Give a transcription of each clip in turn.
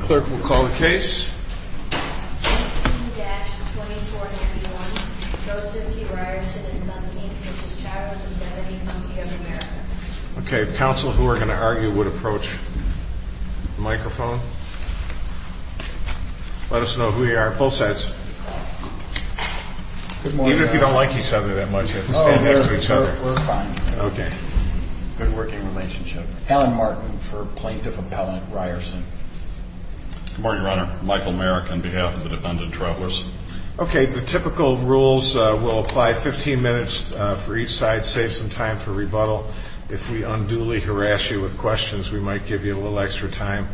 Clerk will call the case Okay, if counsel who are going to argue would approach microphone Let us know who you are both sides Good morning, if you don't like each other that much Stand next to each other Good working relationship Alan Martin for Plaintiff Appellant Ryerson Good morning, Your Honor Michael Merrick on behalf of the Defendant Travelers Okay, the typical rules will apply 15 minutes for each side Save some time for rebuttal If we unduly harass you with questions We might give you a little extra time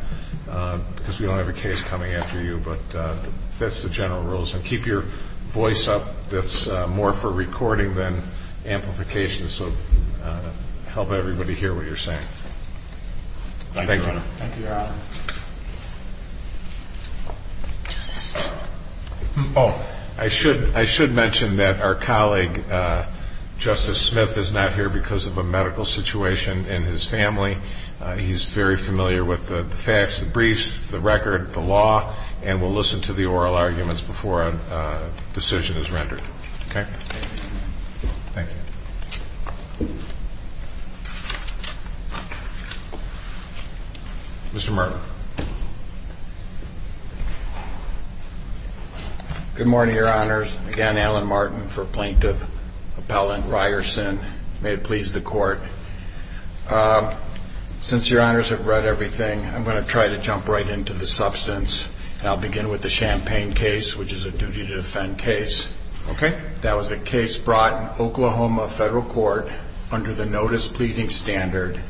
Because we don't have a case coming after you But that's the general rules Keep your voice up That's more for recording Than for the hearing We have amplification So help everybody hear what you are saying Thank you, Your Honor Thank you, Your Honor Justice Smith Oh, I should mention that our colleague Justice Smith is not here Because of a medical situation In his family He is very familiar with the facts The briefs, the record, the law And will listen to the oral arguments Before a decision is rendered Okay Thank you Mr. Merrick Good morning, Your Honors Again, Alan Martin for Plaintiff Appellant Ryerson May it please the Court Since Your Honors have read everything I'm going to try to jump right into the substance And I'll begin with the Champagne case Which is a duty to defend case Okay That was a case brought in Oklahoma Federal Court Under the Notice Pleading Standard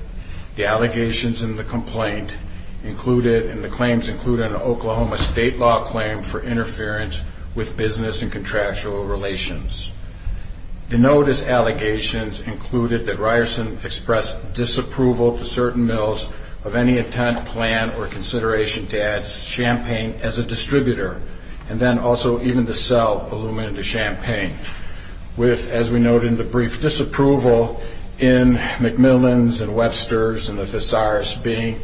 The allegations in the complaint Included And the claims included An Oklahoma state law claim for interference With business and contractual relations The notice allegations Included that Ryerson Expressed disapproval to certain mills Of any intent, plan Or consideration to add Champagne as a distributor And then also even to sell Aluminum to Champagne With, as we noted in the brief Disapproval in McMillan's and Webster's Being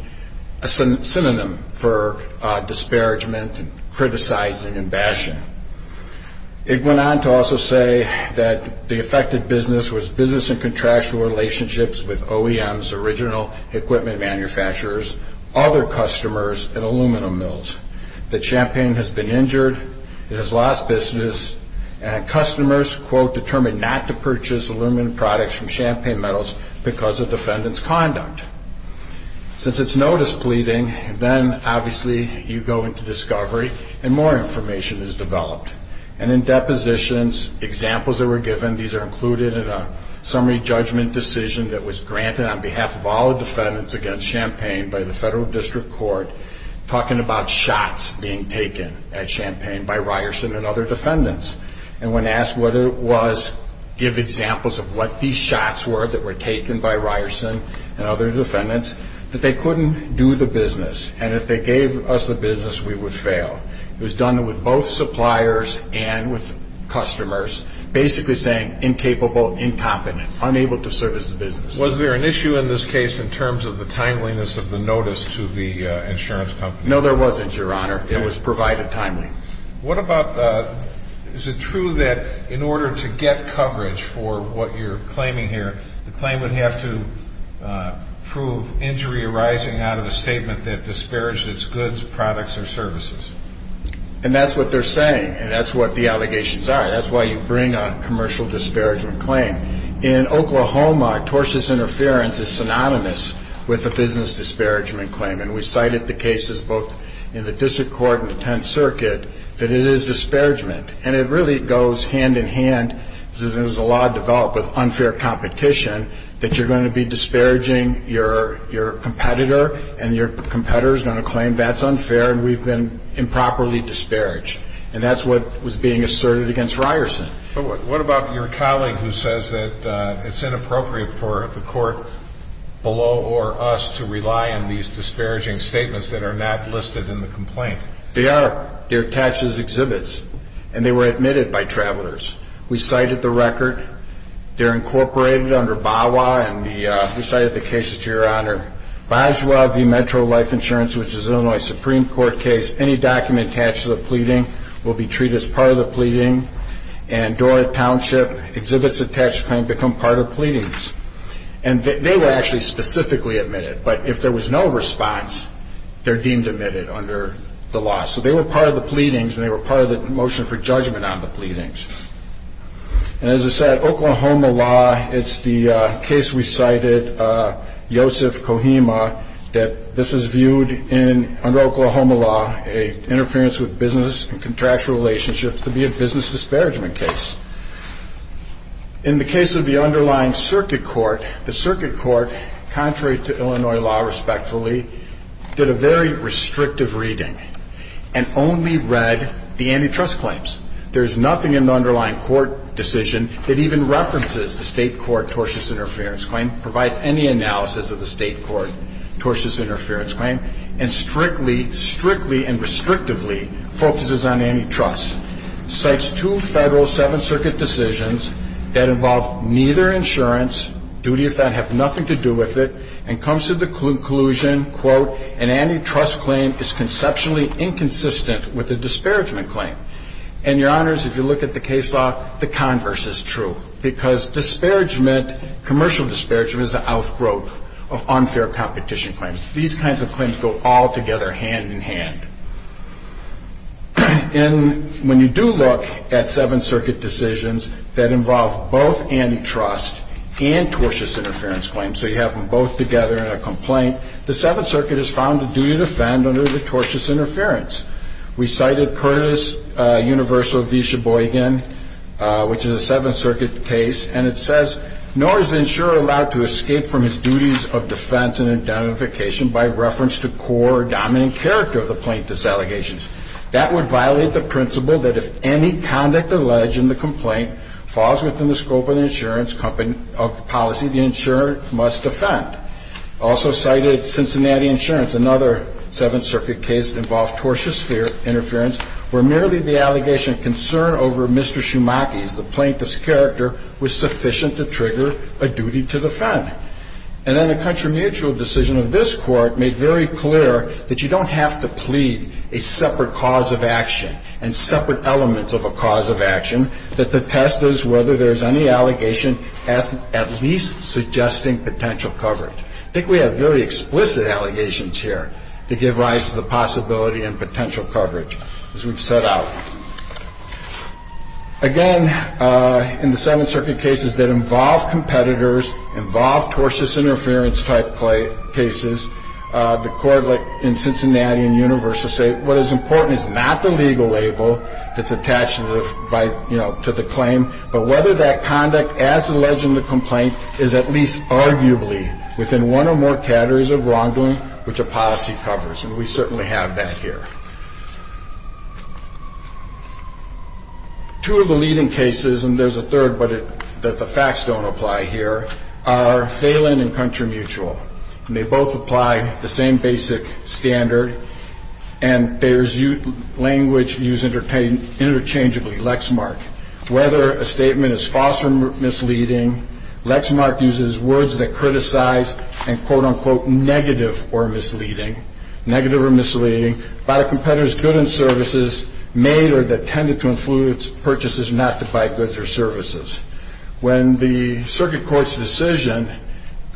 a synonym For disparagement Criticizing and bashing It went on To also say that The affected business was business and contractual Relationships with OEM's Original equipment manufacturers Other customers and aluminum mills That Champagne has been injured It has lost business And customers quote Determined not to purchase aluminum products From Champagne metals because of Defendant's conduct Since it's notice pleading Then obviously you go into discovery And more information is developed And in depositions Examples that were given, these are included In a summary judgment decision That was granted on behalf of all Defendants against Champagne by the Shots being taken at Champagne By Ryerson and other defendants And when asked what it was Give examples of what these shots Were that were taken by Ryerson And other defendants That they couldn't do the business And if they gave us the business we would fail It was done with both suppliers And with customers Basically saying incapable Incompetent, unable to service the business Was there an issue in this case in terms of The timeliness of the notice to the Your honor, it was provided timely What about Is it true that in order to get coverage For what you're claiming here The claim would have to Prove injury arising Out of a statement that disparaged Its goods, products or services And that's what they're saying And that's what the allegations are That's why you bring a commercial disparagement claim In Oklahoma Tortious interference is synonymous With a business disparagement claim And we cited the cases both In the district court and the 10th circuit That it is disparagement And it really goes hand in hand As the law developed with unfair competition That you're going to be disparaging Your competitor And your competitor is going to claim That's unfair and we've been improperly disparaged And that's what was being asserted Against Ryerson But what about your colleague who says That it's inappropriate for the court Below or us To rely on these disparaging statements That are not listed in the complaint They are, they're attached as exhibits And they were admitted by travelers We cited the record They're incorporated under BAWA And we cited the cases to your honor Boswell v. Metro Life Insurance Which is an Illinois Supreme Court case Any document attached to the pleading Will be treated as part of the pleading And Dorrit Township Exhibits attached to the claim Become part of pleadings And they were actually specifically admitted But if there was no response They're deemed admitted under the law So they were part of the pleadings And they were part of the motion for judgment On the pleadings And as I said, Oklahoma law It's the case we cited Yosef Kohima That this is viewed in Under Oklahoma law Interference with business and contractual relationships To be a business disparagement case In the case of the underlying circuit court The circuit court Contrary to Illinois law, respectfully Did a very restrictive reading And only read The antitrust claims There's nothing in the underlying court decision That even references the state court Tortious interference claim Provides any analysis of the state court Tortious interference claim And strictly, strictly and restrictively Focuses on antitrust Cites two federal Seven circuit decisions That involve neither insurance Duty of that have nothing to do with it And comes to the conclusion Quote, an antitrust claim Is conceptually inconsistent With a disparagement claim And your honors, if you look at the case law The converse is true Because disparagement, commercial disparagement Is an outgrowth of unfair Competition claims These kinds of claims go all together Hand in hand And when you do look At seven circuit decisions That involve both antitrust And tortious interference claims So you have them both together in a complaint The seven circuit has found a duty to defend Under the tortious interference We cited Curtis Universal v. Sheboygan Which is a seven circuit case And it says Nor is the insurer allowed to escape from his duties Of defense and indemnification By reference to core or dominant character Of the plaintiff's allegations That would violate the principle That if any conduct alleged in the complaint Falls within the scope of the insurance Company of policy The insurer must defend Also cited Cincinnati insurance Another seven circuit case Involves tortious interference Where merely the allegation of concern Over Mr. Schumachie's The plaintiff's character Was sufficient to trigger a duty to defend And then a country mutual decision Of this court made very clear That you don't have to plead A separate cause of action And separate elements of a cause of action That the test is whether there is any Allegation at least Suggesting potential coverage I think we have very explicit allegations here To give rise to the possibility And potential coverage As we've set out Again In the seven circuit cases That involve competitors Involve tortious interference Type cases The court in Cincinnati and University say what is important Is not the legal label That's attached to the claim But whether that conduct As alleged in the complaint Is at least arguably Within one or more categories of wrongdoing Which a policy covers And we certainly have that here Two of the leading cases And there's a third But the facts don't apply here Are Phelan and Country Mutual And they both apply The same basic standard And there's language Used interchangeably Lexmark Whether a statement is false or misleading Lexmark uses words that Criticize and quote unquote Negative or misleading Negative or misleading About a competitor's goods and services Made or that tended to influence A competitor's purchases Not to buy goods or services When the circuit court's decision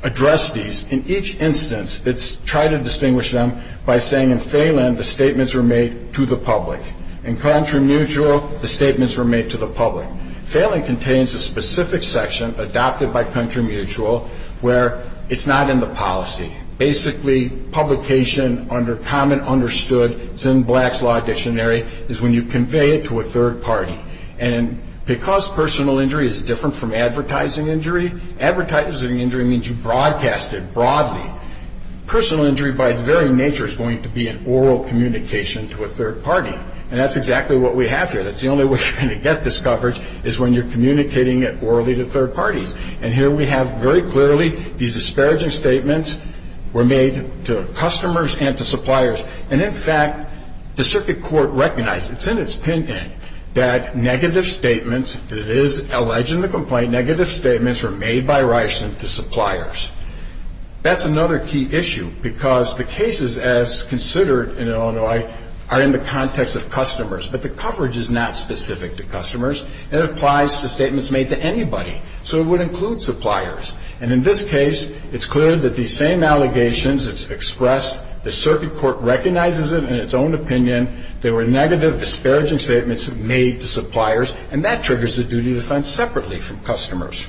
Addressed these In each instance It tried to distinguish them By saying in Phelan The statements were made to the public In Country Mutual The statements were made to the public Phelan contains a specific section Adopted by Country Mutual Where it's not in the policy Basically publication Under common understood It's in Black's Law Dictionary Is when you convey it to a third party And because personal injury Is different from advertising injury Advertising injury means you broadcast it Broadly Personal injury by its very nature Is going to be an oral communication To a third party And that's exactly what we have here That's the only way you're going to get this coverage Is when you're communicating it orally to third parties And here we have very clearly These disparaging statements Were made to customers and to suppliers And in fact The circuit court recognized It's in its pin-in That negative statements That it is alleged in the complaint Negative statements were made by Ryerson to suppliers That's another key issue Because the cases as considered In Illinois Are in the context of customers But the coverage is not specific to customers It applies to statements made to anybody So it would include suppliers And in this case It's clear that these same allegations It's expressed The circuit court recognizes it in its own opinion There were negative disparaging statements Made to suppliers And that triggers the duty to fund separately from customers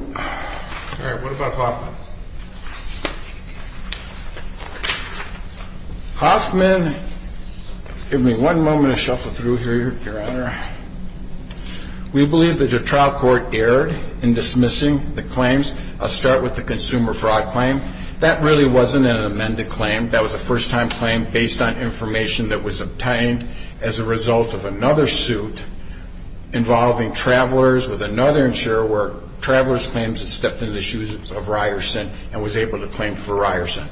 Alright, what about Hoffman? Hoffman Give me one moment To shuffle through here, your honor We believe that the trial court erred In dismissing the claims I'll start with the consumer fraud claim That really wasn't an amended claim That was a first-time claim Based on information that was obtained As a result of another suit Involving travelers With another insurer Where travelers' claims had stepped in the shoes of Ryerson And was able to claim for Ryerson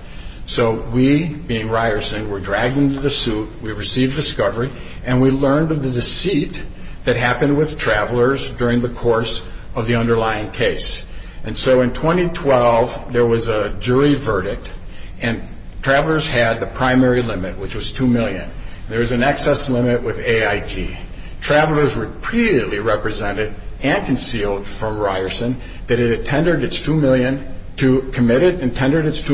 So we, being Ryerson Were dragged into the suit We received discovery And we learned of the deceit That happened with travelers During the course of the underlying case And so in 2012 There was a jury verdict And travelers had the primary limit Which was $2 million There was an excess limit with AIG Travelers repeatedly represented And concealed from Ryerson That it had committed its $2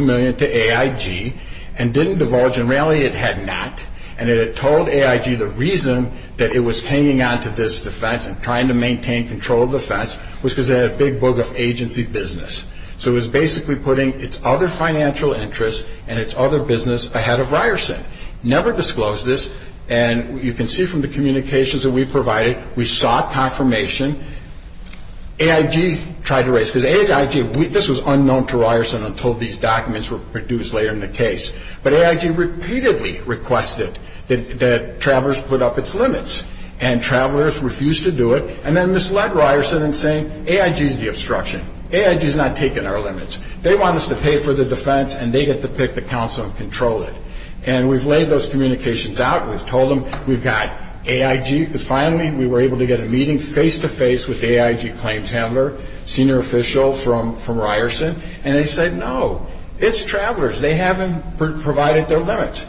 million To AIG And didn't divulge And really it had not And it had told AIG the reason That it was hanging on to this defense And trying to maintain control of the defense Was because it had a big book of agency business So it was basically putting Its other financial interests And its other business ahead of Ryerson Never disclosed this And you can see from the communications that we provided We sought confirmation AIG tried to raise Because AIG, this was unknown to Ryerson Until these documents were produced Later in the case But AIG repeatedly requested That travelers put up its limits And travelers refused to do it And then misled Ryerson in saying AIG is the obstruction AIG is not taking our limits They want us to pay for the defense And they get to pick the counsel and control it And we've laid those communications out We've told them we've got AIG Because finally we were able to get a meeting Face-to-face with the AIG claims handler Senior official from Ryerson And they said no It's travelers, they haven't provided their limits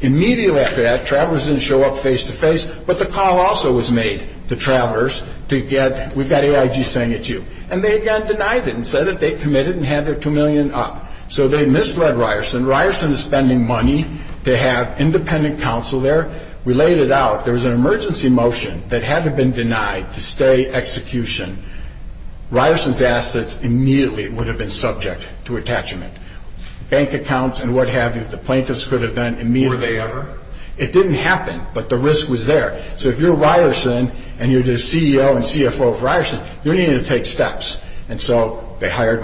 Immediately after that Travelers didn't show up face-to-face But the call also was made To travelers to get We've got AIG saying it's you And they again denied it and said that they committed And had their two million up So they misled Ryerson Ryerson is spending money to have independent counsel there We laid it out There was an emergency motion That had to have been denied to stay execution Ryerson's assets Immediately would have been subject To attachment Bank accounts and what have you The plaintiffs could have done immediately It didn't happen but the risk was there So if you're Ryerson And you're the CEO and CFO of Ryerson You need to take steps They hired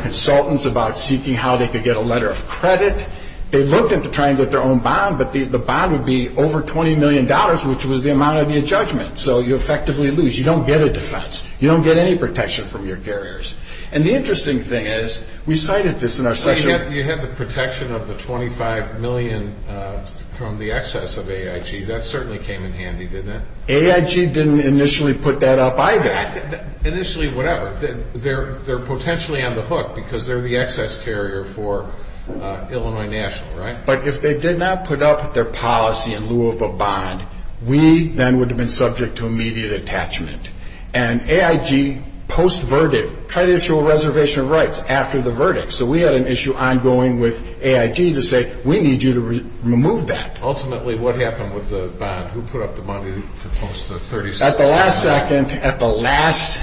consultants about seeking How they could get a letter of credit They looked into trying to get their own bond But the bond would be over 20 million dollars Which was the amount of your judgment So you effectively lose You don't get a defense You don't get any protection from your carriers And the interesting thing is We cited this in our session You had the protection of the 25 million From the excess of AIG That certainly came in handy, didn't it? AIG didn't initially put that up either Initially, whatever They're potentially on the hook Because they're the excess carrier For Illinois National, right? But if they did not put up their policy In lieu of a bond We then would have been subject To immediate attachment And AIG post-verdict Tried to issue a reservation of rights After the verdict So we had an issue ongoing with AIG To say, we need you to remove that Ultimately, what happened with the bond? Who put up the bond? At the last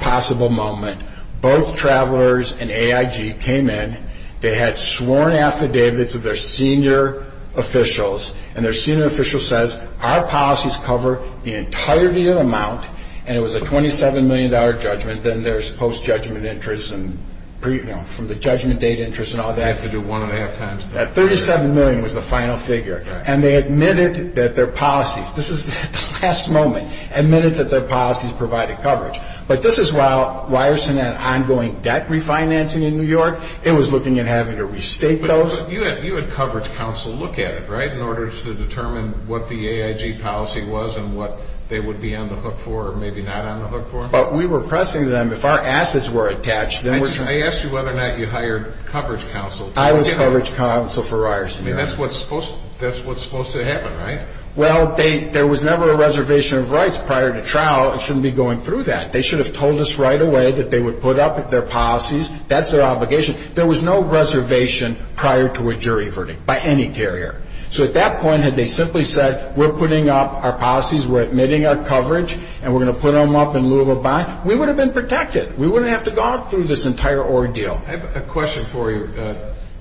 second Both travelers and AIG came in They had sworn affidavits Of their senior officials And their senior official says Our policies cover the entirety of the amount And it was a 27 million dollar judgment Then there's post-judgment interest And from the judgment date interest And all that You have to do one and a half times That 37 million was the final figure And they admitted that their policies This is at the last moment Admitted that their policies provided coverage But this is while Ryerson had Ongoing debt refinancing in New York It was looking at having to restate those But you had coverage counsel Look at it, right? In order to determine what the AIG policy was And what they would be on the hook for Or maybe not on the hook for But we were pressing them If our assets were attached I asked you whether or not you hired coverage counsel I was coverage counsel for Ryerson That's what's supposed to happen, right? Well, there was never a reservation of rights Prior to trial, it shouldn't be going through that They should have told us right away That they would put up their policies That's their obligation There was no reservation prior to a jury verdict By any carrier So at that point had they simply said We're putting up our policies We're admitting our coverage And we're going to put them up in lieu of a bond We would have been protected We wouldn't have to go through this entire ordeal I have a question for you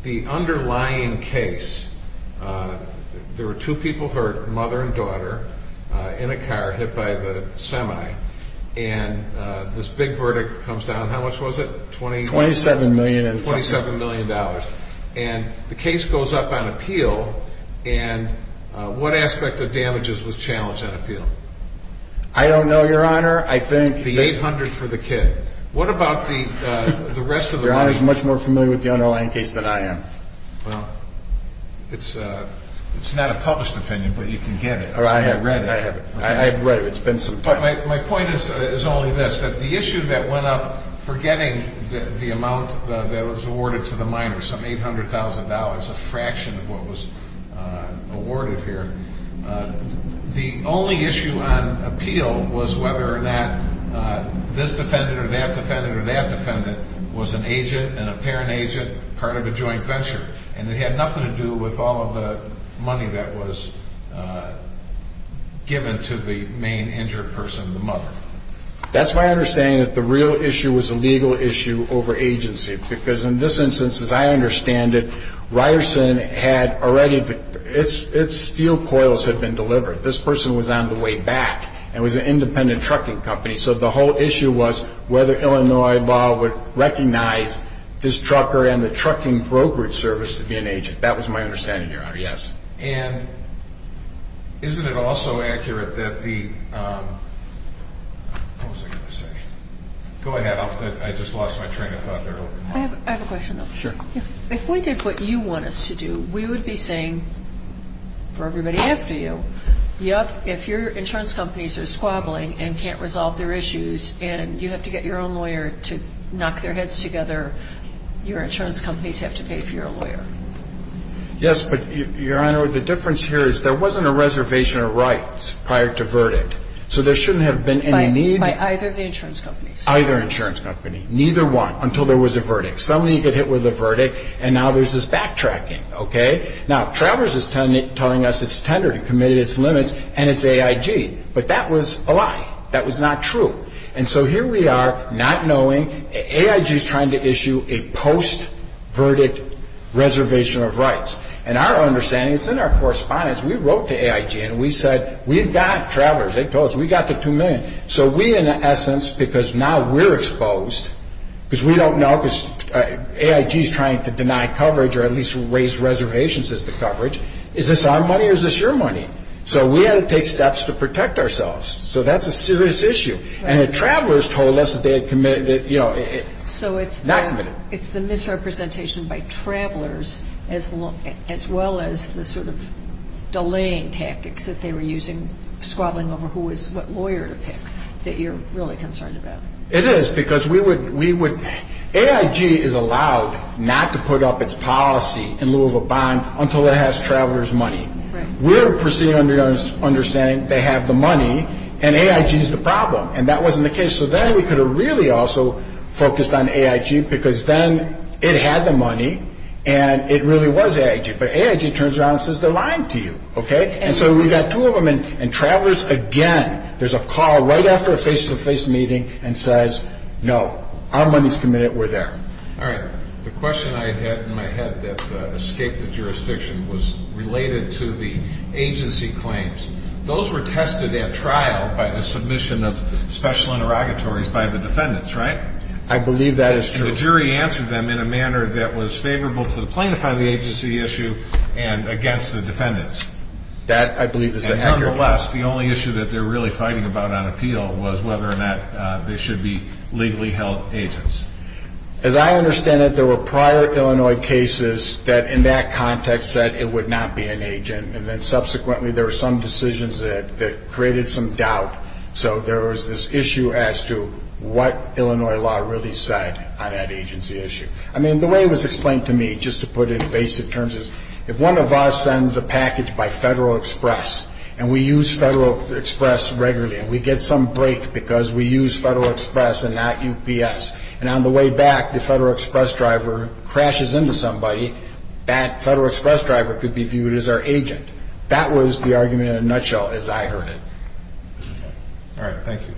The underlying case There were two people hurt Mother and daughter In a car hit by the semi And this big verdict Comes down, how much was it? Twenty-seven million Twenty-seven million dollars And the case goes up on appeal And what aspect of damages Was challenged on appeal? I don't know, your honor I think The 800 for the kid What about the rest of the money Your honor is much more familiar with the underlying case than I am Well It's not a published opinion But you can get it I have read it My point is only this The issue that went up Forgetting the amount that was awarded To the minor, some 800,000 dollars A fraction of what was Awarded here The only issue on Appeal was whether or not This defendant or that defendant Was an agent and a parent agent Part of a joint venture And it had nothing to do with all of the Money that was Given to the Main injured person, the mother That's my understanding that the real issue Was a legal issue over agency Because in this instance As I understand it, Ryerson had Already Its steel coils had been delivered This person was on the way back And was an independent trucking company So the whole issue was whether Illinois law would recognize This trucker and the trucking brokerage Service to be an agent That was my understanding your honor And isn't it also Accurate that the What was I going to say Go ahead I just lost my train of thought there I have a question If we did what you want us to do We would be saying For everybody after you Yep, if your insurance companies Are squabbling and can't resolve their issues And you have to get your own lawyer To knock their heads together Your insurance companies have to pay for your lawyer Yes, but Your honor, the difference here is There wasn't a reservation of rights Prior to verdict So there shouldn't have been any need By either of the insurance companies Neither one, until there was a verdict Somebody could hit with a verdict And now there's this backtracking Now Travers is telling us It's tendered and committed its limits And it's AIG But that was a lie, that was not true And so here we are, not knowing AIG is trying to issue A post-verdict Reservation of rights And our understanding, it's in our correspondence We wrote to AIG and we said We've got Travers, they told us, we've got the two million So we in essence, because now We're exposed Because we don't know AIG is trying to deny coverage Or at least raise reservations As to coverage Is this our money or is this your money So we had to take steps to protect ourselves So that's a serious issue And the Travers told us that they had committed Not committed So it's the misrepresentation by Travers As well as the sort of Delaying tactics That they were using Squabbling over who was what lawyer to pick That you're really concerned about It is, because we would AIG is allowed Not to put up its policy In lieu of a bond until it has Travers money We're proceeding under the Understanding they have the money And AIG is the problem And that wasn't the case, so then we could have really also Focused on AIG because then It had the money And it really was AIG But AIG turns around and says they're lying to you And so we've got two of them And Travers again, there's a call Right after a face-to-face meeting And says, no, our money's committed We're there Alright, the question I had in my head that Escaped the jurisdiction was related To the agency claims Those were tested at trial By the submission of special Interrogatories by the defendants, right? I believe that is true And the jury answered them in a manner that was Favorable to the plaintiff on the agency issue And against the defendants That I believe is accurate Nevertheless, the only issue that they're really fighting about On appeal was whether or not They should be legally held agents As I understand it There were prior Illinois cases That in that context said it would not Be an agent, and then subsequently There were some decisions that Created some doubt, so there was This issue as to what Illinois law really said On that agency issue. I mean, the way it was Explained to me, just to put it in basic terms Is if one of us sends a package By Federal Express, and we use Federal Express regularly And we get some break because we use Federal Express and not UPS And on the way back, the Federal Express driver Crashes into somebody That Federal Express driver could be Viewed as our agent. That was The argument in a nutshell as I heard it All right, thank you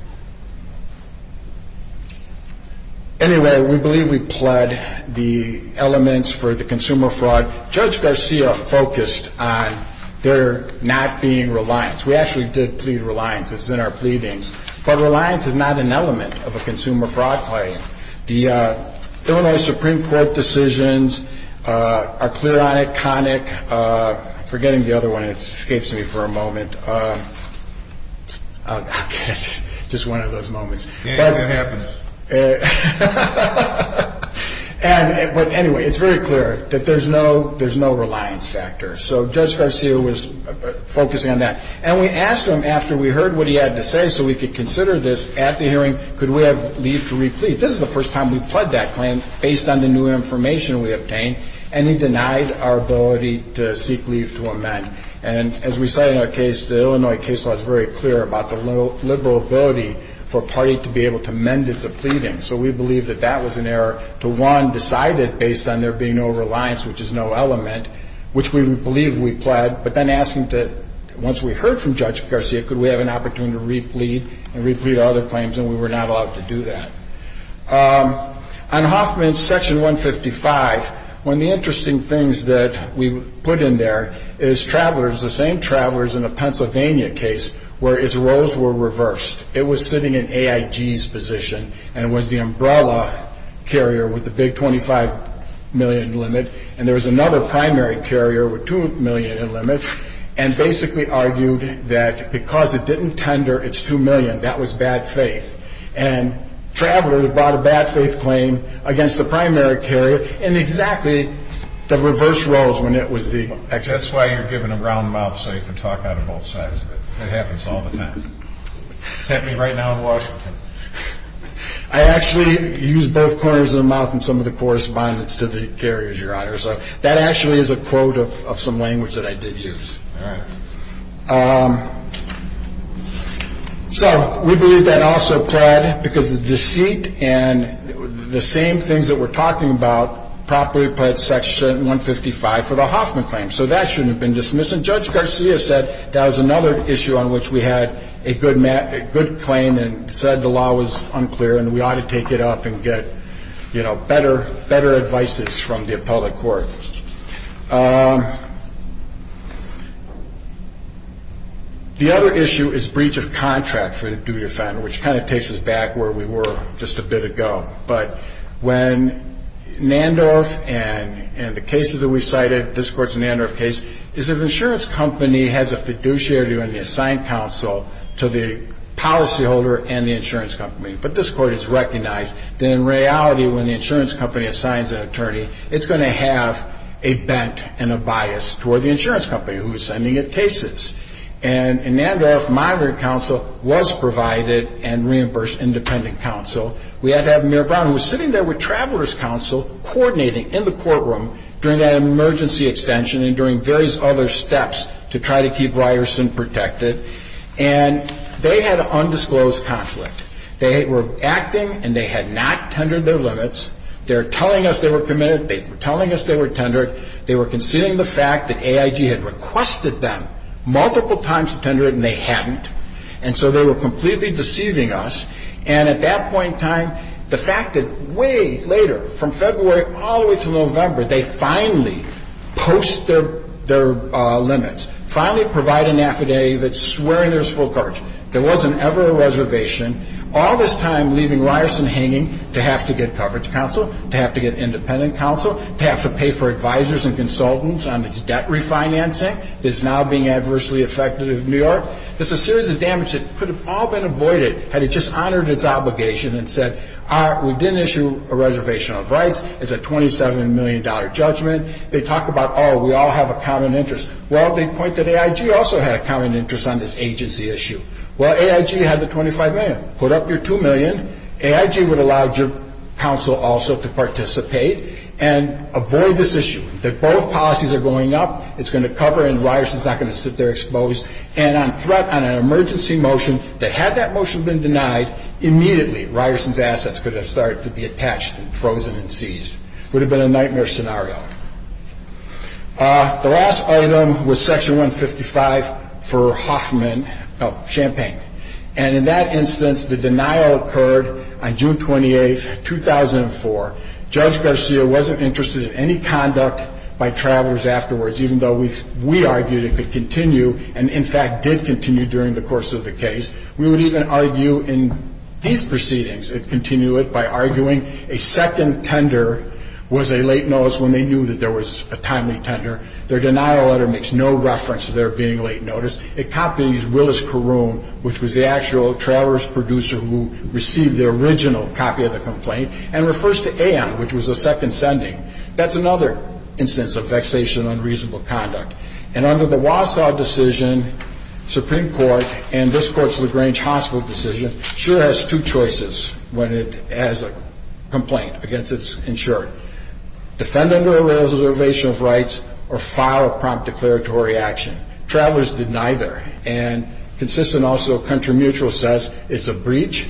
Anyway, we believe We pled the elements For the consumer fraud. Judge Garcia Focused on there Not being reliance. We actually Did plead reliance. It's in our pleadings But reliance is not an element Of a consumer fraud claim The Illinois Supreme Court Decisions are clear On it, conic Forgetting the other one, it escapes me for a moment Just one of those Moments. It happens But anyway, it's very clear That there's no reliance factor So Judge Garcia was Focusing on that. And we asked him After we heard what he had to say so we could Consider this at the hearing Could we have leave to re-plead. This is the first time We pled that claim based on the new information We obtained. And he denied Our ability to seek leave to amend And as we said in our case The Illinois case law is very clear about The liberal ability for a party To be able to amend its pleading So we believe that that was an error To one, decide it based on there being no Reliance which is no element Which we believe we pled But then asking that once we heard from Judge Garcia Could we have an opportunity to re-plead And re-plead our other claims And we were not allowed to do that On Hoffman's section 155 One of the interesting things That we put in there Is travelers, the same travelers In the Pennsylvania case Where its roles were reversed It was sitting in AIG's position And it was the umbrella carrier With the big 25 million limit And there was another primary carrier With 2 million in limit And basically argued that Because it didn't tender its 2 million That was bad faith And travelers brought a bad faith claim Against the primary carrier In exactly the reverse roles When it was the excess That's why you're given a round mouth So you can talk out of both sides It happens all the time It's happening right now in Washington I actually Use both corners of the mouth In some of the correspondence to the carriers That actually is a quote Of some language that I did use Alright So We believe that also pled Because the deceit And the same things that we're talking about Properly pled section 155 For the Hoffman claim So that shouldn't have been dismissed And Judge Garcia said That was another issue on which we had A good claim And said the law was unclear And we ought to take it up And get better advices From the appellate court The other issue Is breach of contract For the duty offender Which kind of takes us back Where we were just a bit ago But when Nandorf And the cases that we cited This court's Nandorf case Is an insurance company has a fiduciary When they assign counsel To the policy holder and the insurance company But this court has recognized That in reality when the insurance company Assigns an attorney It's going to have a bent and a bias Toward the insurance company Who is sending it cases And in Nandorf, moderate counsel Was provided and reimbursed Independent counsel We had to have Mayor Brown Who was sitting there with Travelers Counsel Coordinating in the courtroom During that emergency extension And during various other steps To try to keep Ryerson protected And they had undisclosed conflict They were acting And they had not tendered their limits They were telling us they were committed They were telling us they were tendered They were conceding the fact that AIG Had requested them multiple times To tender it and they hadn't And so they were completely deceiving us And at that point in time The fact that way later From February all the way to November They finally Post their limits Finally provide an affidavit Swearing there was full coverage There wasn't ever a reservation All this time leaving Ryerson hanging To have to get coverage counsel To have to get independent counsel To have to pay for advisors and consultants On its debt refinancing That is now being adversely affected in New York It's a series of damage that could have all been avoided Had it just honored its obligation And said We didn't issue a reservation of rights It's a $27 million judgment They talk about oh we all have a common interest Well they point that AIG Also had a common interest on this agency issue Well AIG had the $25 million Put up your $2 million AIG would allow counsel also To participate And avoid this issue That both policies are going up It's going to cover and Ryerson's not going to sit there exposed And on threat on an emergency motion That had that motion been denied Immediately Ryerson's assets Could have started to be attached Frozen and seized Would have been a nightmare scenario The last item was Section 155 for Hoffman Champagne And in that instance the denial occurred On June 28th 2004 Judge Garcia wasn't interested in any conduct By travelers afterwards Even though we argued it could continue And in fact did continue During the course of the case We would even argue in these proceedings It continued by arguing A second tender Was a late notice when they knew There was a timely tender Their denial letter makes no reference to there being a late notice It copies Willis Caroon Which was the actual travelers producer Who received the original copy of the complaint And refers to Ann Which was a second sending That's another instance of vexation on reasonable conduct And under the Wausau decision Supreme Court And this court's LaGrange hospital decision Sure has two choices When it has a complaint Against its insured Defend under a reservation of rights Or file a prompt declaratory action Travelers did neither And consistent also Country Mutual says it's a breach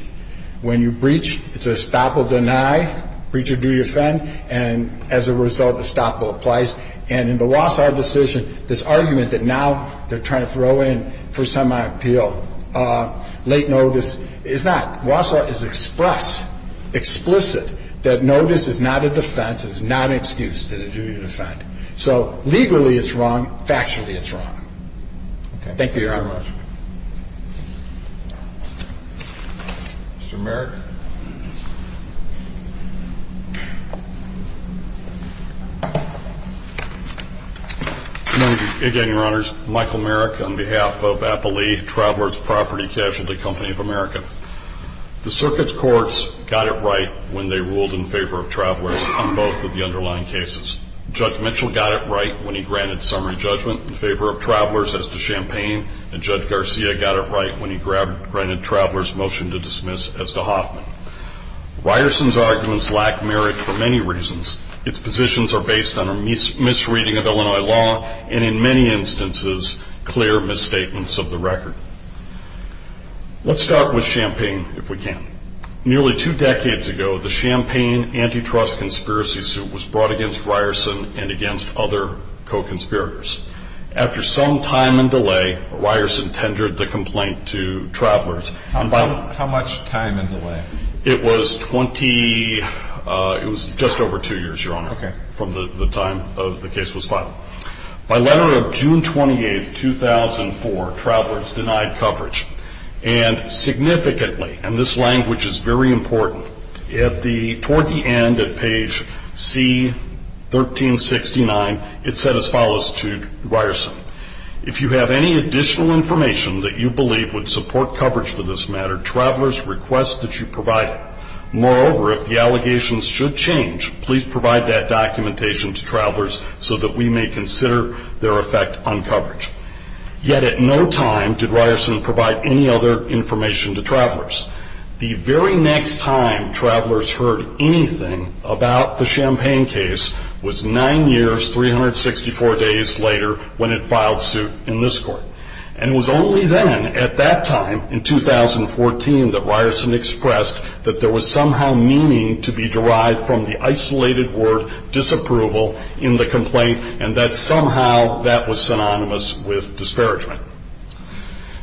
When you breach It's a estoppel deny Breach of duty offend And as a result Estoppel applies And in the Wausau decision This argument that now They're trying to throw in First time on appeal Late notice Is not Wausau is express Explicit That notice is not a defense That notice is not an excuse So legally it's wrong Factually it's wrong Thank you Your honor Mr. Merrick Again your honors Travelers property Casualty company of America The circuit's courts Got it right when they ruled in favor of Travelers in both of the underlying cases Judge Mitchell got it right When he granted summary judgment in favor of Travelers as to Champaign And Judge Garcia got it right when he Granted Travelers motion to dismiss as to Hoffman Ryerson's arguments Lack merit for many reasons Its positions are based on a Misreading of Illinois law And in many instances Clear misstatements of the record Let's start with Champaign If we can Nearly two decades ago The Champaign antitrust conspiracy suit Was brought against Ryerson and against Other co-conspirators After some time and delay Ryerson tendered the complaint to Travelers How much time and delay It was twenty It was just over two years your honor From the time the case was filed By letter of June 28th 2004 Travelers denied coverage And significantly And this language is very important Toward the end At page C 1369 It said as follows to Ryerson If you have any additional information That you believe would support coverage For this matter Travelers request That you provide it Moreover if the allegations should change Please provide that documentation to Travelers So that we may consider Their effect on coverage Yet at no time did Ryerson Provide any other information to Travelers The very next time Travelers heard anything About the Champaign case Was nine years 364 days later When it filed suit in this court And it was only then at that time In 2014 that Ryerson Expressed that there was somehow Meaning to be derived from the isolated Word disapproval In the complaint and that somehow That was synonymous with Disparagement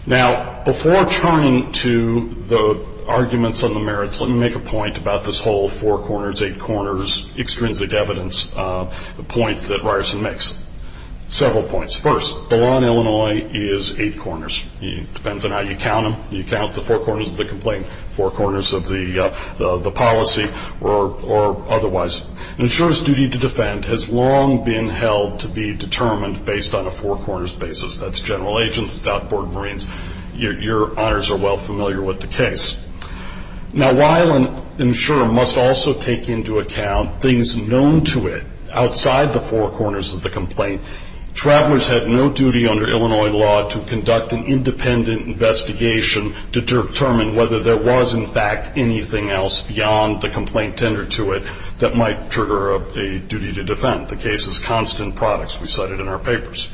Now before turning to The arguments on the merits Let me make a point about this whole Four corners eight corners extrinsic evidence Point that Ryerson makes Several points First the law in Illinois is Eight corners depends on how you count them You count the four corners of the complaint Four corners of the policy Or otherwise An insurer's duty to defend Has long been held to be determined Based on a four corners basis That's general agents, that's outboard marines Your honors are well familiar With the case Now while an insurer must also Take into account things known to it Outside the four corners Of the complaint Travelers had no duty under Illinois law To conduct an independent investigation To determine whether there was In fact anything else beyond The complaint tendered to it That might trigger a duty to defend The case is constant products We cited in our papers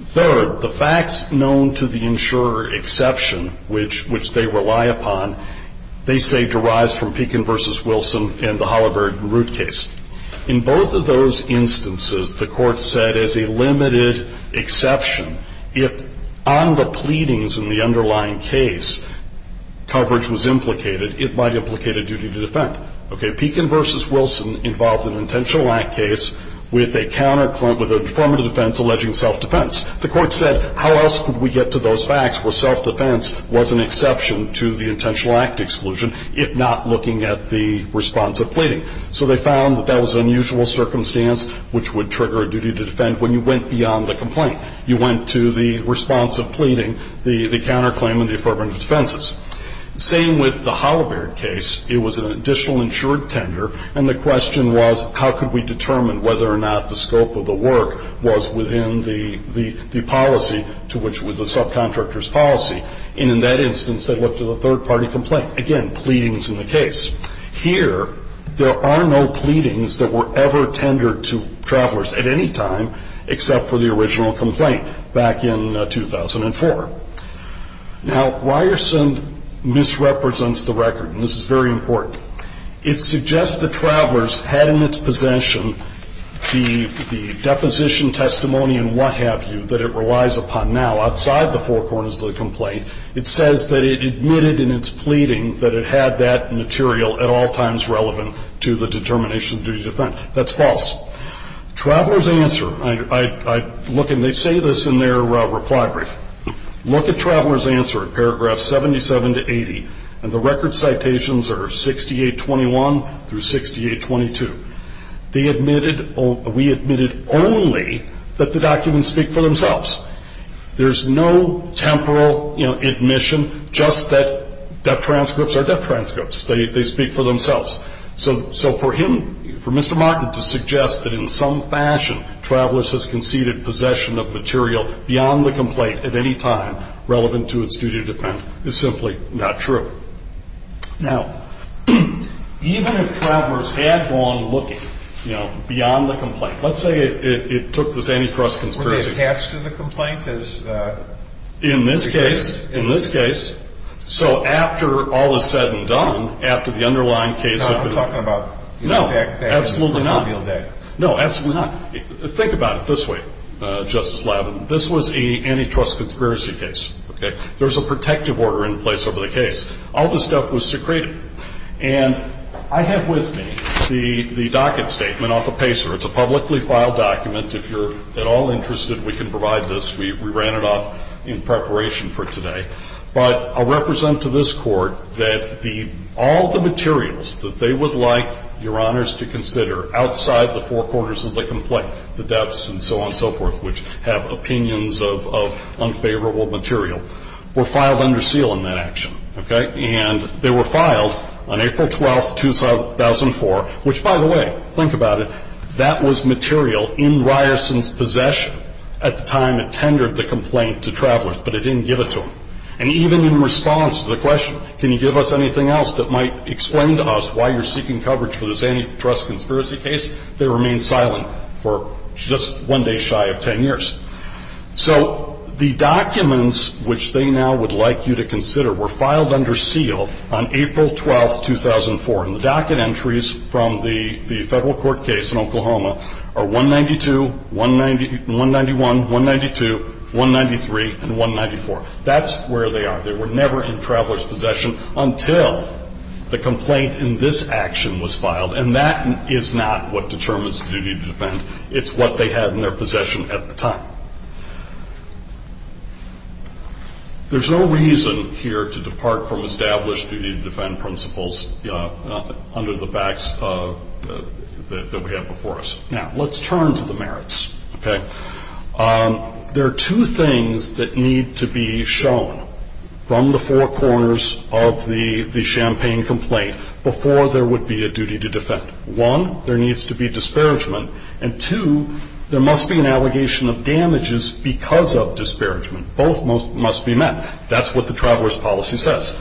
Third the facts known to the insurer Exception Which they rely upon They say derives from Pekin v. Wilson And the Holabird root case In both of those instances The court said as a limited Exception If on the pleadings in the underlying case Coverage was implicated It might implicate a duty to defend Pekin v. Wilson involved An intentional act case With a counterclaim Alleging self-defense The court said how else could we get to those facts Where self-defense was an exception To the intentional act exclusion If not looking at the response of pleading So they found that that was an unusual circumstance Which would trigger a duty to defend When you went beyond the complaint You went to the response of pleading The counterclaim and the affirmative defenses Same with the Holabird case It was an additional insured tender And the question was How could we determine whether or not The scope of the work was within the Policy to which Was the subcontractor's policy And in that instance they looked at a third party complaint Again, pleadings in the case Here, there are no pleadings That were ever tendered to Travelers at any time Except for the original complaint Back in 2004 Now, Ryerson Misrepresents the record And this is very important It suggests that travelers had in its possession The deposition Testimony and what have you That it relies upon Now, outside the four corners of the complaint It says that it admitted in its pleading That it had that material At all times relevant To the determination of duty to defend That's false Travelers answer I look and they say this In their reply brief Look at travelers answer Paragraph 77 to 80 And the record citations are 6821 Through 6822 They admitted We admitted only That the documents speak for themselves There's no temporal Admission just that Dep transcripts are dep transcripts They speak for themselves So for him, for Mr. Mockett To suggest that in some fashion Travelers has conceded possession of material Beyond the complaint at any time Relevant to its duty to defend Is simply not true Now Even if travelers had gone Looking, you know, beyond the complaint Let's say it took this antitrust Were they attached to the complaint as In this case In this case So after all is said and done After the underlying case No, absolutely not No, absolutely not Think about it this way Justice Lavin This was an antitrust conspiracy case There's a protective order in place over the case All this stuff was secreted And I have with me The docket statement off a pacer It's a publicly filed document If you're at all interested We can provide this We ran it off in preparation for today But I'll represent to this court That all the materials That they would like your honors To consider outside the four quarters Of the complaint The depths and so on and so forth Which have opinions of unfavorable material Were filed under seal in that action Okay And they were filed on April 12, 2004 Which by the way Think about it That was material in Ryerson's possession At the time it tendered the complaint To travelers but it didn't give it to them And even in response to the question Can you give us anything else that might Explain to us why you're seeking coverage For this antitrust conspiracy case They remained silent For just one day shy of ten years So the documents Which they now would like you to consider Were filed under seal On April 12, 2004 And the docket entries from the Federal court case in Oklahoma Are 192, 191 192, 193 And 194 That's where they are They were never in traveler's possession Until the complaint in this action was filed And that is not what determines The duty to defend It's what they had in their possession At the time There's no reason Here to depart from established Duty to defend principles Under the facts That we have before us Now let's turn to the merits Okay There are two things that need to be shown From the four corners Of the Champagne complaint Before there would be a duty to defend One, there needs to be disparagement And two, there must be an allegation Of damages because of disparagement Both must be met That's what the traveler's policy says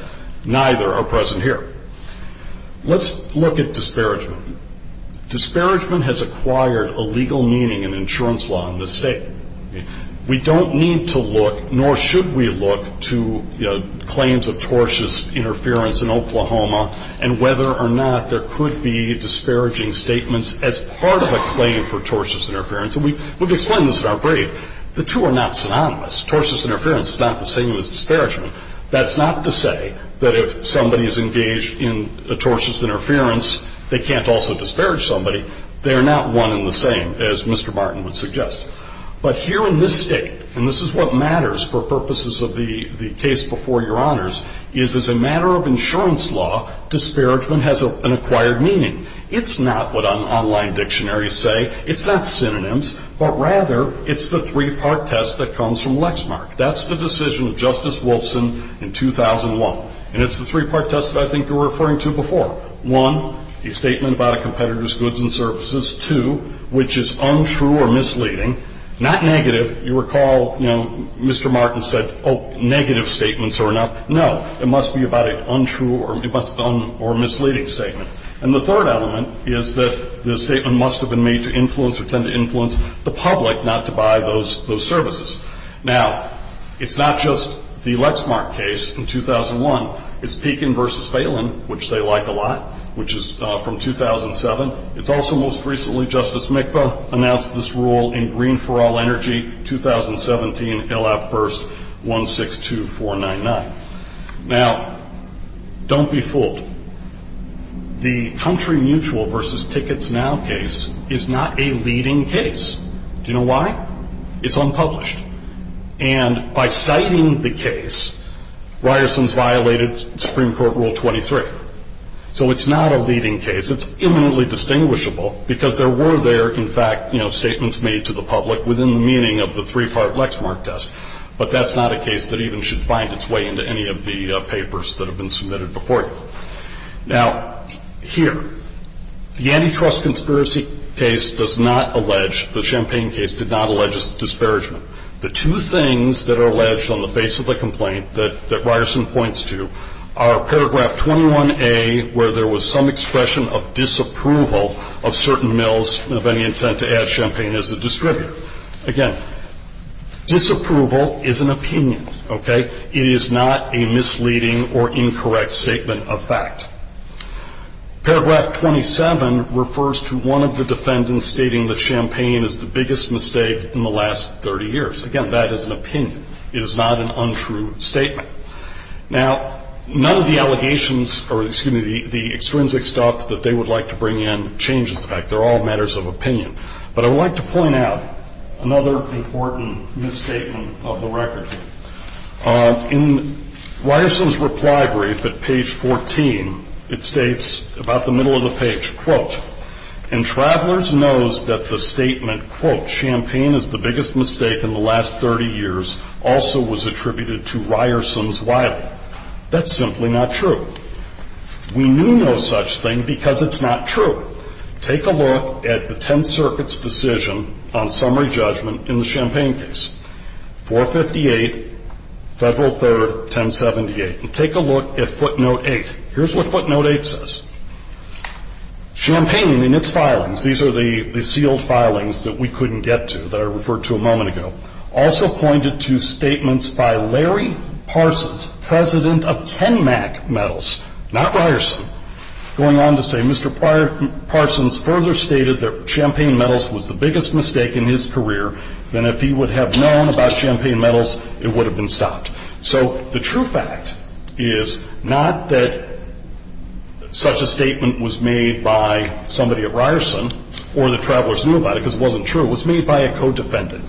Neither are present here Let's look at disparagement Disparagement has acquired A legal meaning in insurance law In this state We don't need to look Nor should we look To claims of tortious interference In Oklahoma And whether or not there could be Disparaging statements As part of a claim for tortious interference And we've explained this in our brief The two are not synonymous Tortious interference is not the same as disparagement That's not to say that if somebody is engaged In a tortious interference They can't also disparage somebody They are not one and the same As Mr. Martin would suggest But here in this state And this is what matters for purposes of the Case before your honors Is as a matter of insurance law Disparagement has an acquired meaning It's not what online dictionaries say It's not synonyms But rather it's the three part test That comes from Lexmark That's the decision of Justice Wilson In 2001 And it's the three part test that I think you were referring to before One A statement about a competitor's goods and services Two Which is untrue or misleading Not negative You recall Mr. Martin said Negative statements are enough No, it must be about an untrue or misleading statement And the third element Is that the statement must have been made To influence or tend to influence the public Not to buy those services Now It's not just the Lexmark case In 2001 It's Pekin v. Phelan Which they like a lot Which is from 2007 It's also most recently Justice Mikva Announced this rule in Green for All Energy 2017 LF1-162499 Now Don't be fooled The Country Mutual v. Tickets Now case Is not a leading case Do you know why? It's unpublished And by citing the case Ryerson's violated Supreme Court Rule 23 So it's not a leading case It's imminently distinguishable Because there were there in fact Statements made to the public Within the meaning of the three part Lexmark test But that's not a case that even should find its way Into any of the papers that have been submitted before you Now Here The antitrust conspiracy case Does not allege The Champagne case did not allege Disparagement The two things that are alleged On the face of the complaint That Ryerson points to Are paragraph 21A Where there was some expression of disapproval Of certain mills Of any intent to add champagne as a distributor Again Disapproval is an opinion It is not a misleading Or incorrect statement of fact Paragraph 27 Refers to one of the defendants Stating that champagne is the biggest mistake In the last 30 years Again that is an opinion It is not an untrue statement Now none of the allegations Or excuse me The extrinsic stuff that they would like to bring in Changes the fact They're all matters of opinion But I would like to point out Another important misstatement of the record In Ryerson's reply brief At page 14 It states about the middle of the page Quote And travelers knows that the statement Quote champagne is the biggest mistake In the last 30 years Also was attributed to Ryerson's wily That's simply not true We knew no such thing Because it's not true Take a look at the 10th circuit's decision On summary judgment In the Champagne case 458 Federal 3rd 1078 Take a look at footnote 8 Here's what footnote 8 says Champagne and its filings These are the sealed filings That we couldn't get to That I referred to a moment ago Also pointed to statements by Larry Parsons President of Kenmack metals Not Ryerson Going on to say Mr. Parsons further stated that Champagne metals was the biggest mistake In his career Then if he would have known about Champagne metals it would have been stopped So the true fact is Not that Such a statement was made By somebody at Ryerson Or the travelers knew about it because it wasn't true It was made by a co-defendant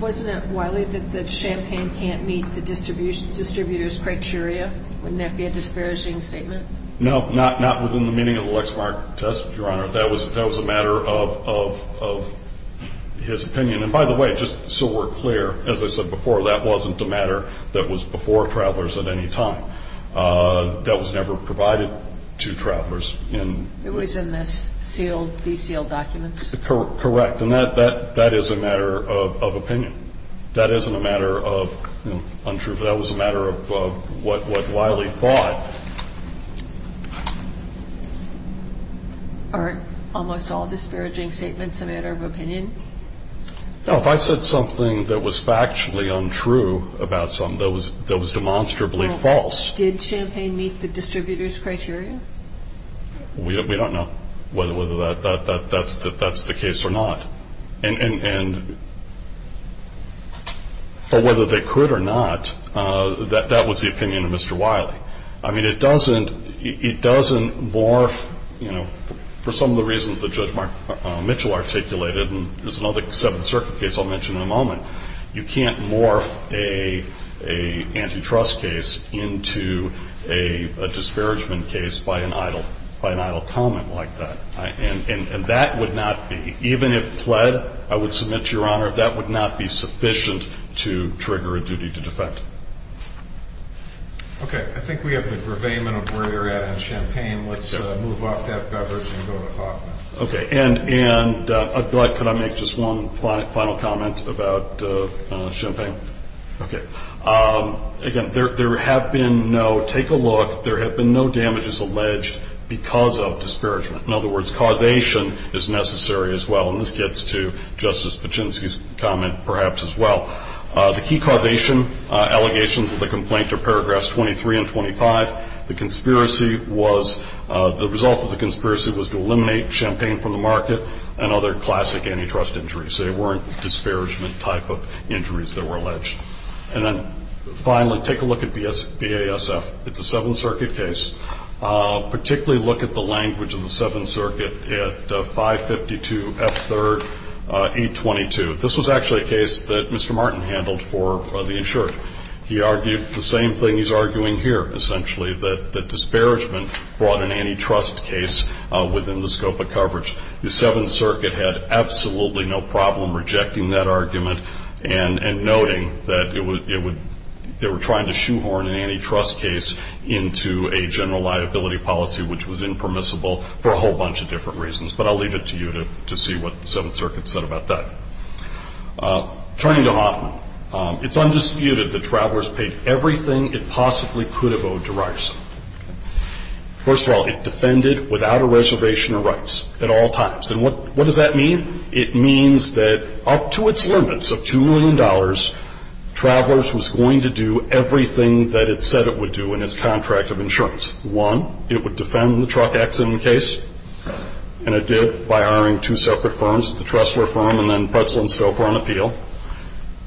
Wasn't it wily that Champagne can't meet the distributor's criteria Wouldn't that be a disparaging statement No Not within the meaning of the Lexmark test Your honor That was a matter of His opinion And by the way just so we're clear As I said before that wasn't a matter That was before travelers at any time That was never provided To travelers It was in the sealed Documents Correct and that is a matter of opinion That isn't a matter of Untruth That was a matter of what wily thought Almost all disparaging statements A matter of opinion If I said something that was factually Untrue about something That was demonstrably false Did Champagne meet the distributor's criteria We don't know Whether that's The case or not And Whether they could Or not That was the opinion of Mr. Wily I mean it doesn't It doesn't morph You know for some of the reasons that Judge Mark Mitchell articulated There's another Seventh Circuit case I'll mention in a moment You can't morph A antitrust case Into a Disparagement case by an idle By an idle comment like that And that would not be Even if pled I would submit to your Honor that would not be sufficient To trigger a duty to defect Okay I think we have the Reveyment of where you're at on Champagne Let's move off that beverage and go to Okay and Can I make just one final comment About Champagne Okay Again there have been no Take a look there have been no damages Alleged because of Disparagement in other words causation Is necessary as well and this gets to Justice Paczynski's comment perhaps As well The key causation Allegations of the complaint are paragraphs 23 And 25 the conspiracy Was the result of the Conspiracy was to eliminate Champagne from the Market and other classic antitrust Injuries they weren't disparagement Type of injuries that were alleged And then finally take a look At BASF it's a Seventh Circuit case particularly Look at the language of the Seventh Circuit At 552 F3rd 822 This was actually a case that Mr. Martin Handled for the insured He argued the same thing he's arguing here Essentially that the disparagement Brought an antitrust case Within the scope of coverage The Seventh Circuit had absolutely No problem rejecting that argument And noting that It would they were trying to shoehorn An antitrust case into A general liability policy which Was impermissible for a whole bunch of different Reasons but I'll leave it to you to see What the Seventh Circuit said about that Turning to Hoffman It's undisputed that Travelers Paid everything it possibly could Have owed to Ryerson First of all it defended without A reservation of rights at all times And what does that mean it means That up to its limits of Two million dollars Travelers Was going to do everything That it said it would do in its contract of Insurance one it would defend The truck accident case And it did by hiring Two separate firms the Tressler firm And then Pretzl and Stouffer on appeal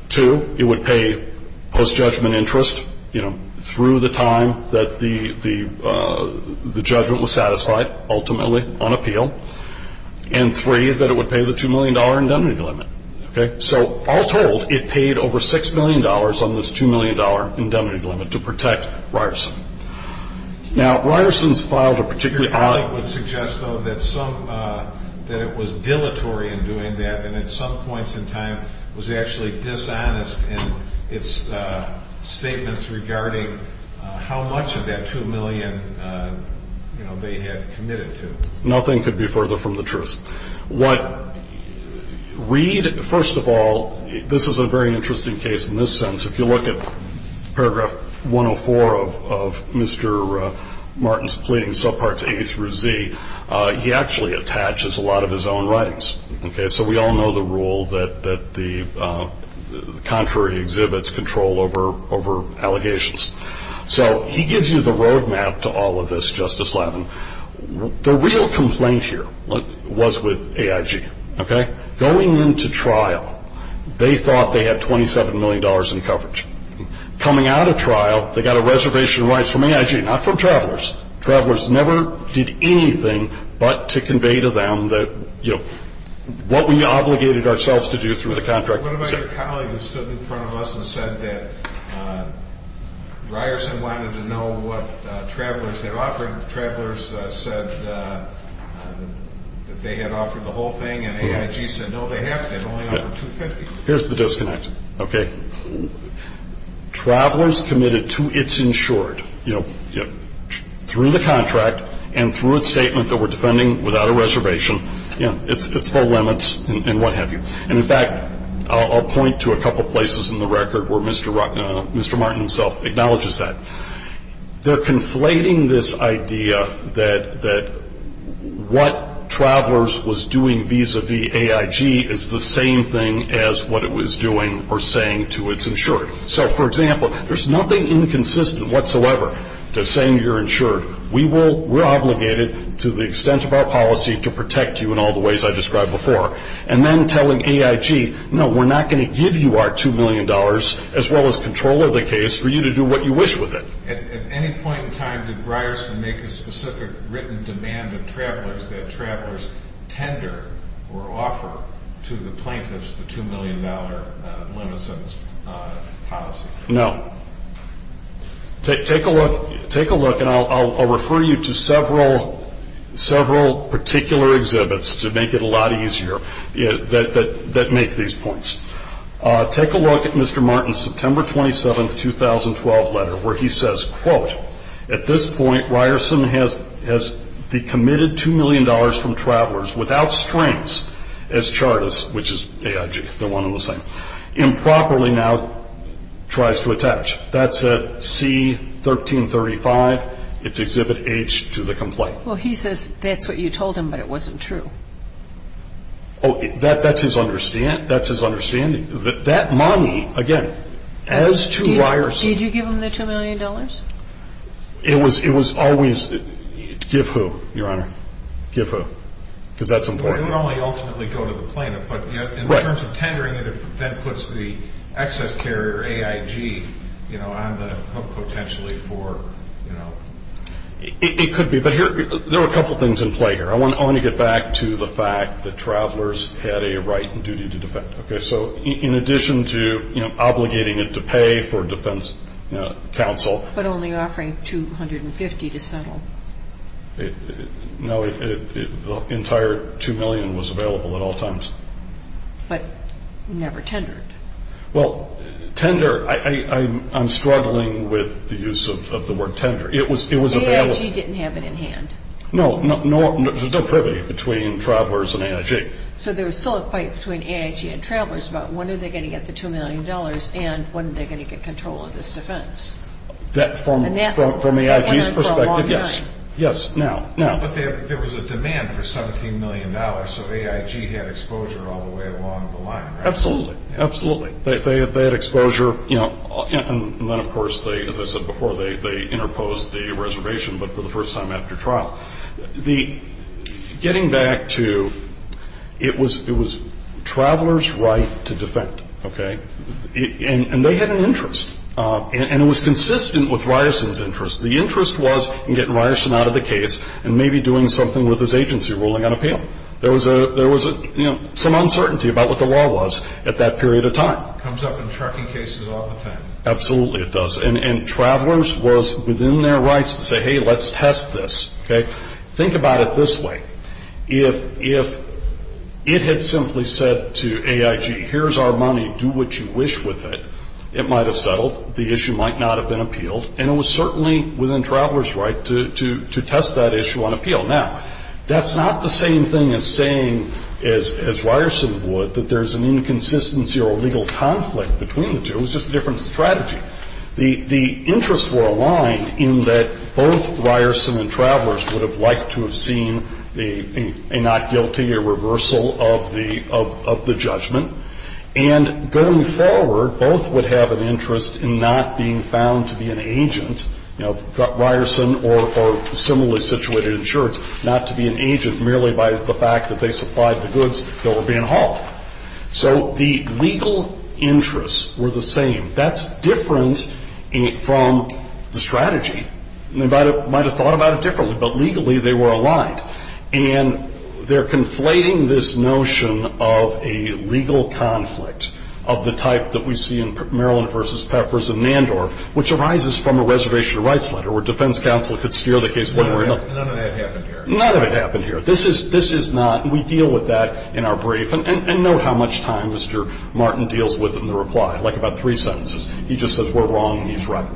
Two it would pay Post judgment interest you know Through the time that the The judgment was satisfied Ultimately on appeal And three that it would pay The two million dollar indemnity limit So all told it paid over Six million dollars on this two million dollar Indemnity limit to protect Ryerson Now Ryerson's File to particularly Suggest though that some That it was dilatory in doing that And at some points in time Was actually dishonest In its statements regarding How much of that two million You know they had Committed to Nothing could be further from the truth What Reed first of all This is a very interesting case In this sense if you look at Paragraph 104 of Mr. Martin's Pleading sub parts A through Z He actually attaches a lot of his own Writings okay so we all know the Rule that the Contrary exhibits control Over allegations So he gives you the road map To all of this Justice Lavin The real complaint here Was with AIG okay Going into trial They thought they had twenty seven million Dollars in coverage Coming out of trial They got a reservation of rights from AIG Not from travelers Travelers never did anything But to convey to them What we obligated ourselves to do Through the contract What about your colleague who stood in front of us And said that Ryerson wanted to know what Travelers had offered Travelers said That they had offered the whole thing And AIG said no they haven't Here's the disconnect Okay Travelers committed to It's insured Through the contract And through a statement that we're defending without a reservation It's full limits And what have you And in fact I'll point to a couple places In the record where Mr. Martin Himself acknowledges that They're conflating this idea That What travelers was doing Vis-a-vis AIG Is the same thing as what it was doing Or saying to it's insured So for example There's nothing inconsistent whatsoever To saying you're insured We're obligated to the extent of our policy To protect you in all the ways I described before And then telling AIG No we're not going to give you our two million dollars As well as control of the case For you to do what you wish with it At any point in time Did Ryerson make a specific written demand That travelers tender Or offer To the plaintiffs the two million dollar Limits of policy No Take a look And I'll refer you to several Several particular Exhibits to make it a lot easier That make these points Take a look At Mr. Martin's September 27th 2012 letter where he says Quote At this point Ryerson has The committed two million dollars From travelers without strengths As charters Which is AIG Improperly now Tries to attach That's at C-1335 It's exhibit H to the complaint Well he says that's what you told him But it wasn't true That's his understanding That money again As to Ryerson Did you give him the two million dollars It was always Give who your honor Give who It would only ultimately go to the plaintiff But in terms of tendering it That puts the excess carrier AIG You know on the hook Potentially for you know It could be There are a couple things in play here I want to get back to the fact that Travelers had a right and duty to defend So in addition to Obligating it to pay for defense Council But only offering 250 to settle No The entire two million Was available at all times But never tendered Well tender I'm struggling with The use of the word tender AIG didn't have it in hand No there's no privy Between travelers and AIG So there was still a fight between AIG and travelers About when are they going to get the two million dollars And when are they going to get control of this defense From AIG's perspective Yes Yes now But there was a demand for 17 million dollars So AIG had exposure all the way along the line Absolutely They had exposure And then of course As I said before They interposed the reservation But for the first time after trial Getting back to It was travelers right To defend And they had an interest And it was consistent with Ryerson's interest The interest was In getting Ryerson out of the case And maybe doing something with his agency Ruling on appeal There was some uncertainty about what the law was At that period of time Comes up in trucking cases all the time Absolutely it does And travelers was within their rights To say hey let's test this Think about it this way If It had simply said to AIG Here's our money do what you wish with it It might have settled The issue might not have been appealed And it was certainly within travelers right To test that issue on appeal Now that's not the same thing as saying As Ryerson would That there's an inconsistency Or legal conflict between the two It was just a different strategy The interest were aligned in that Both Ryerson and travelers Would have liked to have seen A not guilty A reversal of the judgment And going forward Both would have an interest In not being found to be an agent You know Ryerson Or similarly situated insurance Not to be an agent merely by the fact That they supplied the goods that were being hauled So the legal Interests were the same That's different From The strategy They might have thought about it differently But legally they were aligned And they're conflating this notion Of a legal conflict Of the type that we see in Maryland versus Peppers and Nandorf Which arises from a reservation of rights letter Where defense counsel could steer the case None of that happened here None of it happened here This is not We deal with that in our brief And note how much time Mr. Martin Deals with in the reply Like about three sentences He just says we're wrong and he's right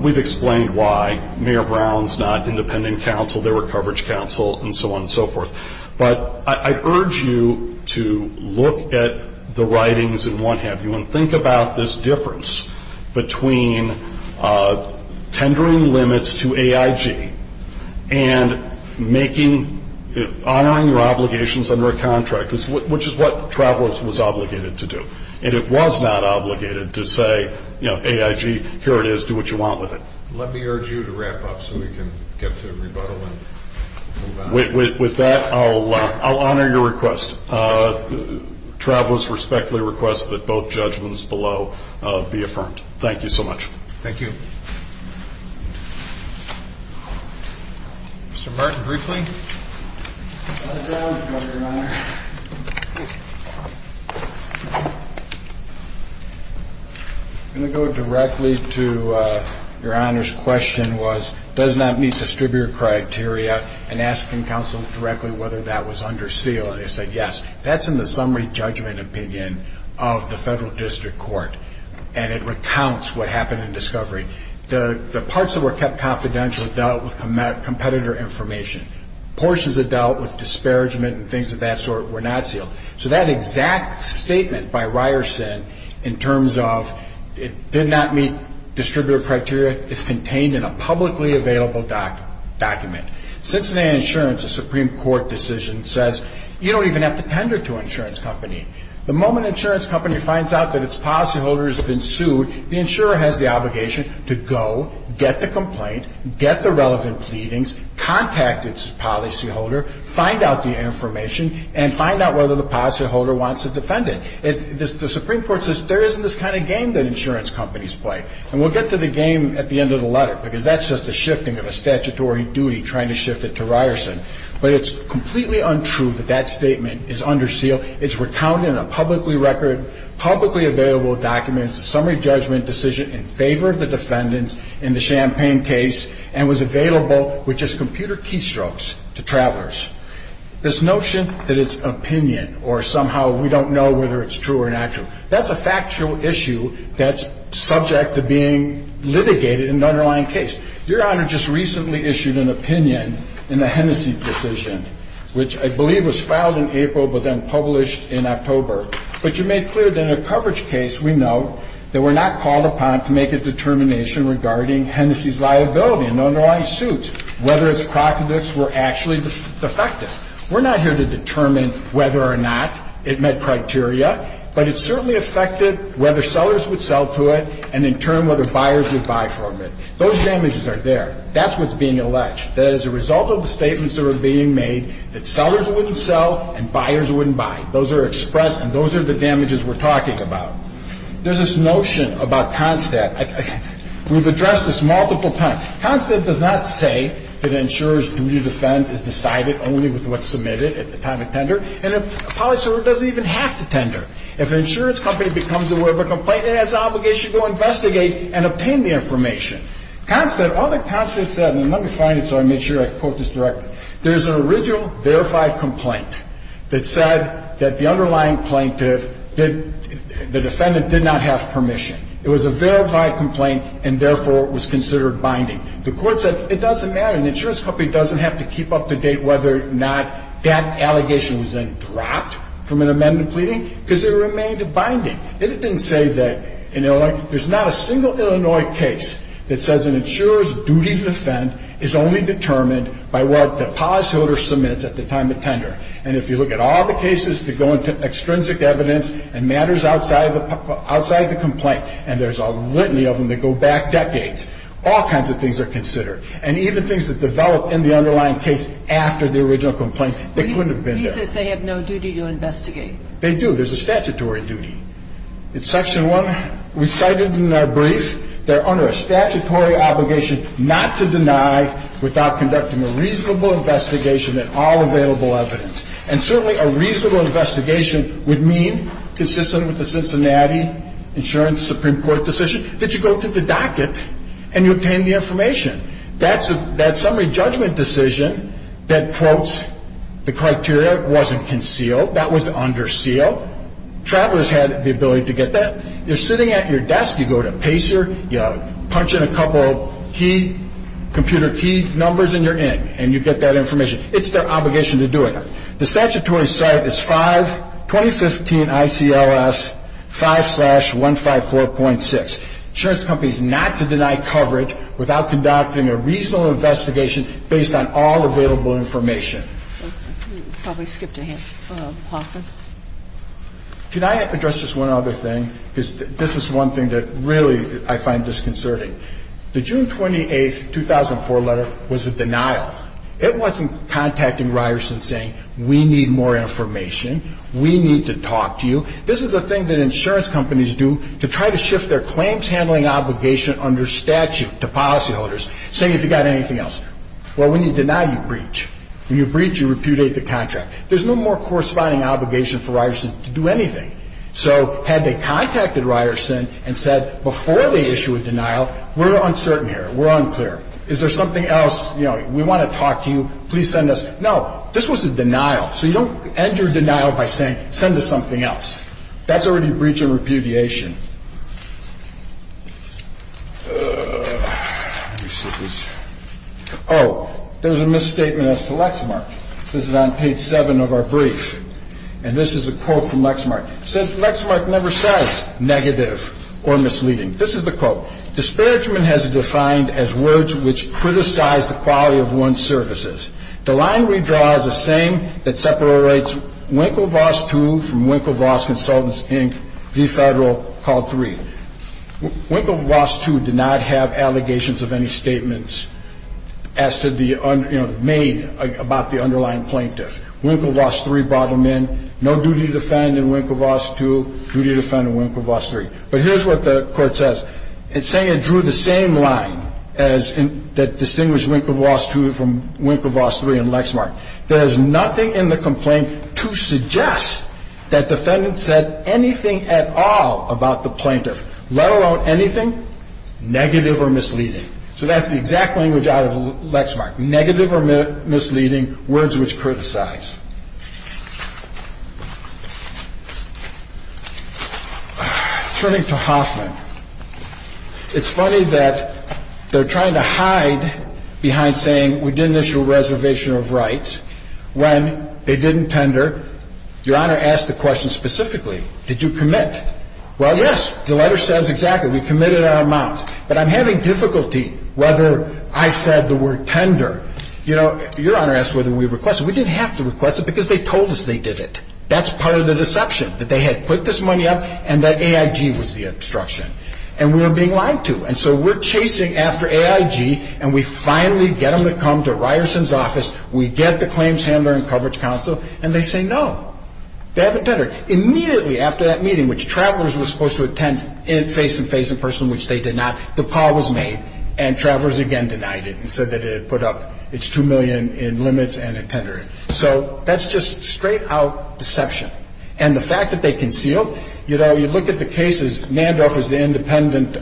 We've explained why Mayor Brown's not independent counsel They were coverage counsel And so on and so forth But I urge you to look at the writings And what have you And think about this difference Between Tendering limits to AIG And making Honoring your obligations Under a contract Which is what Travelers was obligated to do And it was not obligated to say AIG, here it is, do what you want with it Let me urge you to wrap up So we can get to rebuttal With that I'll honor your request Travelers respectfully request That both judgments below Be affirmed Thank you so much Thank you Mr. Martin Briefly I'm going to go directly to Your honor's question was Does not meet distributor criteria And asking counsel directly Whether that was under seal And they said yes That's in the summary judgment opinion Of the federal district court And it recounts what happened In discovery The parts that were kept confidential Dealt with competitor information Portions that dealt with disparagement And things of that sort were not sealed So that exact statement by Ryerson In terms of It did not meet distributor criteria Is contained in a publicly available Document Cincinnati Insurance, a Supreme Court decision Says you don't even have to tender To an insurance company The moment an insurance company Finds out that its policyholder has been sued The insurer has the obligation To go, get the complaint Get the relevant pleadings Contact its policyholder Find out the information And find out whether the policyholder wants to defend it The Supreme Court says There isn't this kind of game that insurance companies play And we'll get to the game at the end of the letter Because that's just a shifting of a statutory duty Trying to shift it to Ryerson But it's completely untrue That that statement is under seal It's recounted in a publicly record Publicly available document It's a summary judgment decision in favor of the defendants In the Champaign case And was available with just computer keystrokes To travelers This notion that it's opinion Or somehow we don't know Whether it's true or not true That's a factual issue That's subject to being litigated In the underlying case Your Honor just recently issued an opinion In the Hennessy decision Which I believe was filed in April But then published in October But you made clear that in a coverage case We note that we're not called upon To make a determination regarding Hennessy's liability in the underlying suit Whether its proxemics were actually Defective We're not here to determine whether or not It met criteria But it certainly affected whether sellers would sell to it And in turn whether buyers would buy from it Those damages are there That's what's being alleged That as a result of the statements that are being made That sellers wouldn't sell and buyers wouldn't buy Those are expressed And those are the damages we're talking about There's this notion about CONSTAT We've addressed this multiple times CONSTAT does not say That an insurer's duty to defend Is decided only with what's submitted At the time of tender And a police officer doesn't even have to tender If an insurance company becomes aware of a complaint It has an obligation to investigate And obtain the information CONSTAT, all that CONSTAT said And let me find it so I can make sure I quote this directly There's an original verified complaint That said that the underlying plaintiff The defendant did not have permission It was a verified complaint And therefore was considered binding The court said it doesn't matter An insurance company doesn't have to keep up to date Whether or not that allegation was then dropped From an amendment pleading Because it remained binding It didn't say that There's not a single Illinois case That says an insurer's duty to defend Is only determined by what The policyholder submits at the time of tender And if you look at all the cases That go into extrinsic evidence And matters outside the complaint And there's a litany of them That go back decades All kinds of things are considered And even things that develop in the underlying case After the original complaint They couldn't have been there He says they have no duty to investigate They do, there's a statutory duty In section one We cited in our brief They're under a statutory obligation Not to deny without conducting A reasonable investigation In all available evidence And certainly a reasonable investigation Would mean consistent with the Cincinnati Insurance Supreme Court decision That you go to the docket And you obtain the information That summary judgment decision That quotes the criteria That wasn't concealed, that was under seal Travelers had the ability to get that You're sitting at your desk You go to Pacer You punch in a couple key Computer key numbers and you're in And you get that information It's their obligation to do it The statutory site is 5 2015 ICLS 5-154.6 Insurance companies Not to deny coverage Without conducting a reasonable investigation Based on all available information I probably skipped a hint Hoffman Can I address just one other thing This is one thing that really I find disconcerting The June 28, 2004 letter Was a denial It wasn't contacting Ryerson saying We need more information We need to talk to you This is a thing that insurance companies do To try to shift their claims handling obligation Under statute to policyholders Saying if you got anything else Well when you deny you breach When you breach you repudiate the contract There's no more corresponding obligation for Ryerson To do anything So had they contacted Ryerson And said before they issue a denial We're uncertain here, we're unclear Is there something else We want to talk to you, please send us No, this was a denial So you don't end your denial by saying Send us something else That's already breach and repudiation Oh There's a misstatement As to Lexmark This is on page 7 of our brief And this is a quote from Lexmark It says Lexmark never says Negative or misleading This is the quote Disparagement has defined as words Which criticize the quality of one's services The line we draw is the same That separates Winklevoss II From Winklevoss Consultants Inc V Federal Called III Winklevoss II did not have Allegations of any statements As to the Made about the underlying plaintiff Winklevoss III brought them in No duty to defend in Winklevoss II Duty to defend in Winklevoss III But here's what the court says It's saying it drew the same line That distinguished Winklevoss II From Winklevoss III and Lexmark There is nothing in the complaint To suggest that defendants Said anything at all About the plaintiff Let alone anything Negative or misleading So that's the exact language Out of Lexmark Negative or misleading Words which criticize Turning to Hoffman It's funny that They're trying to hide Behind saying We didn't issue a reservation Of rights When they didn't tender Your honor asked the question Specifically did you commit Well yes the letter says exactly We committed our amounts But I'm having difficulty Whether I said the word tender Your honor asked whether we requested We didn't have to request it Because they told us they did it That's part of the deception That they had put this money up And that AIG was the obstruction And we were being lied to And so we're chasing after AIG And we finally get them to come To Ryerson's office We get the claims handler and coverage counsel And they say no They haven't tendered Immediately after that meeting Which travelers were supposed to attend Face to face in person Which they did not The call was made And travelers again denied it And said that it had put up Its two million in limits So that's just straight out Deception And the fact that they concealed You know you look at the cases Nandorf is the independent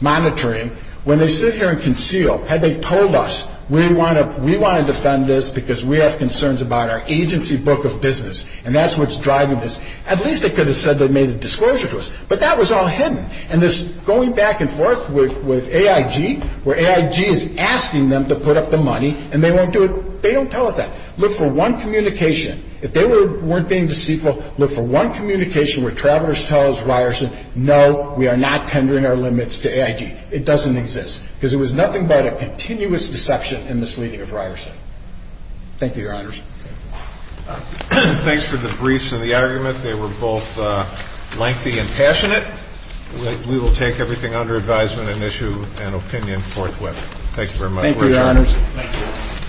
monitoring When they sit here and conceal Had they told us We want to defend this Because we have concerns About our agency book of business And that's what's driving this At least they could have said They made a disclosure to us But that was all hidden And this going back and forth With AIG Where AIG is asking them to put up the money And they won't do it They don't tell us that Look for one communication If they weren't being deceitful Look for one communication Where travelers tell us No we are not tendering our limits To AIG It doesn't exist Because it was nothing but A continuous deception And misleading of Ryerson Thank you your honors Thanks for the briefs and the argument They were both lengthy And passionate We will take everything under advisement And issue an opinion forthwith Thank you very much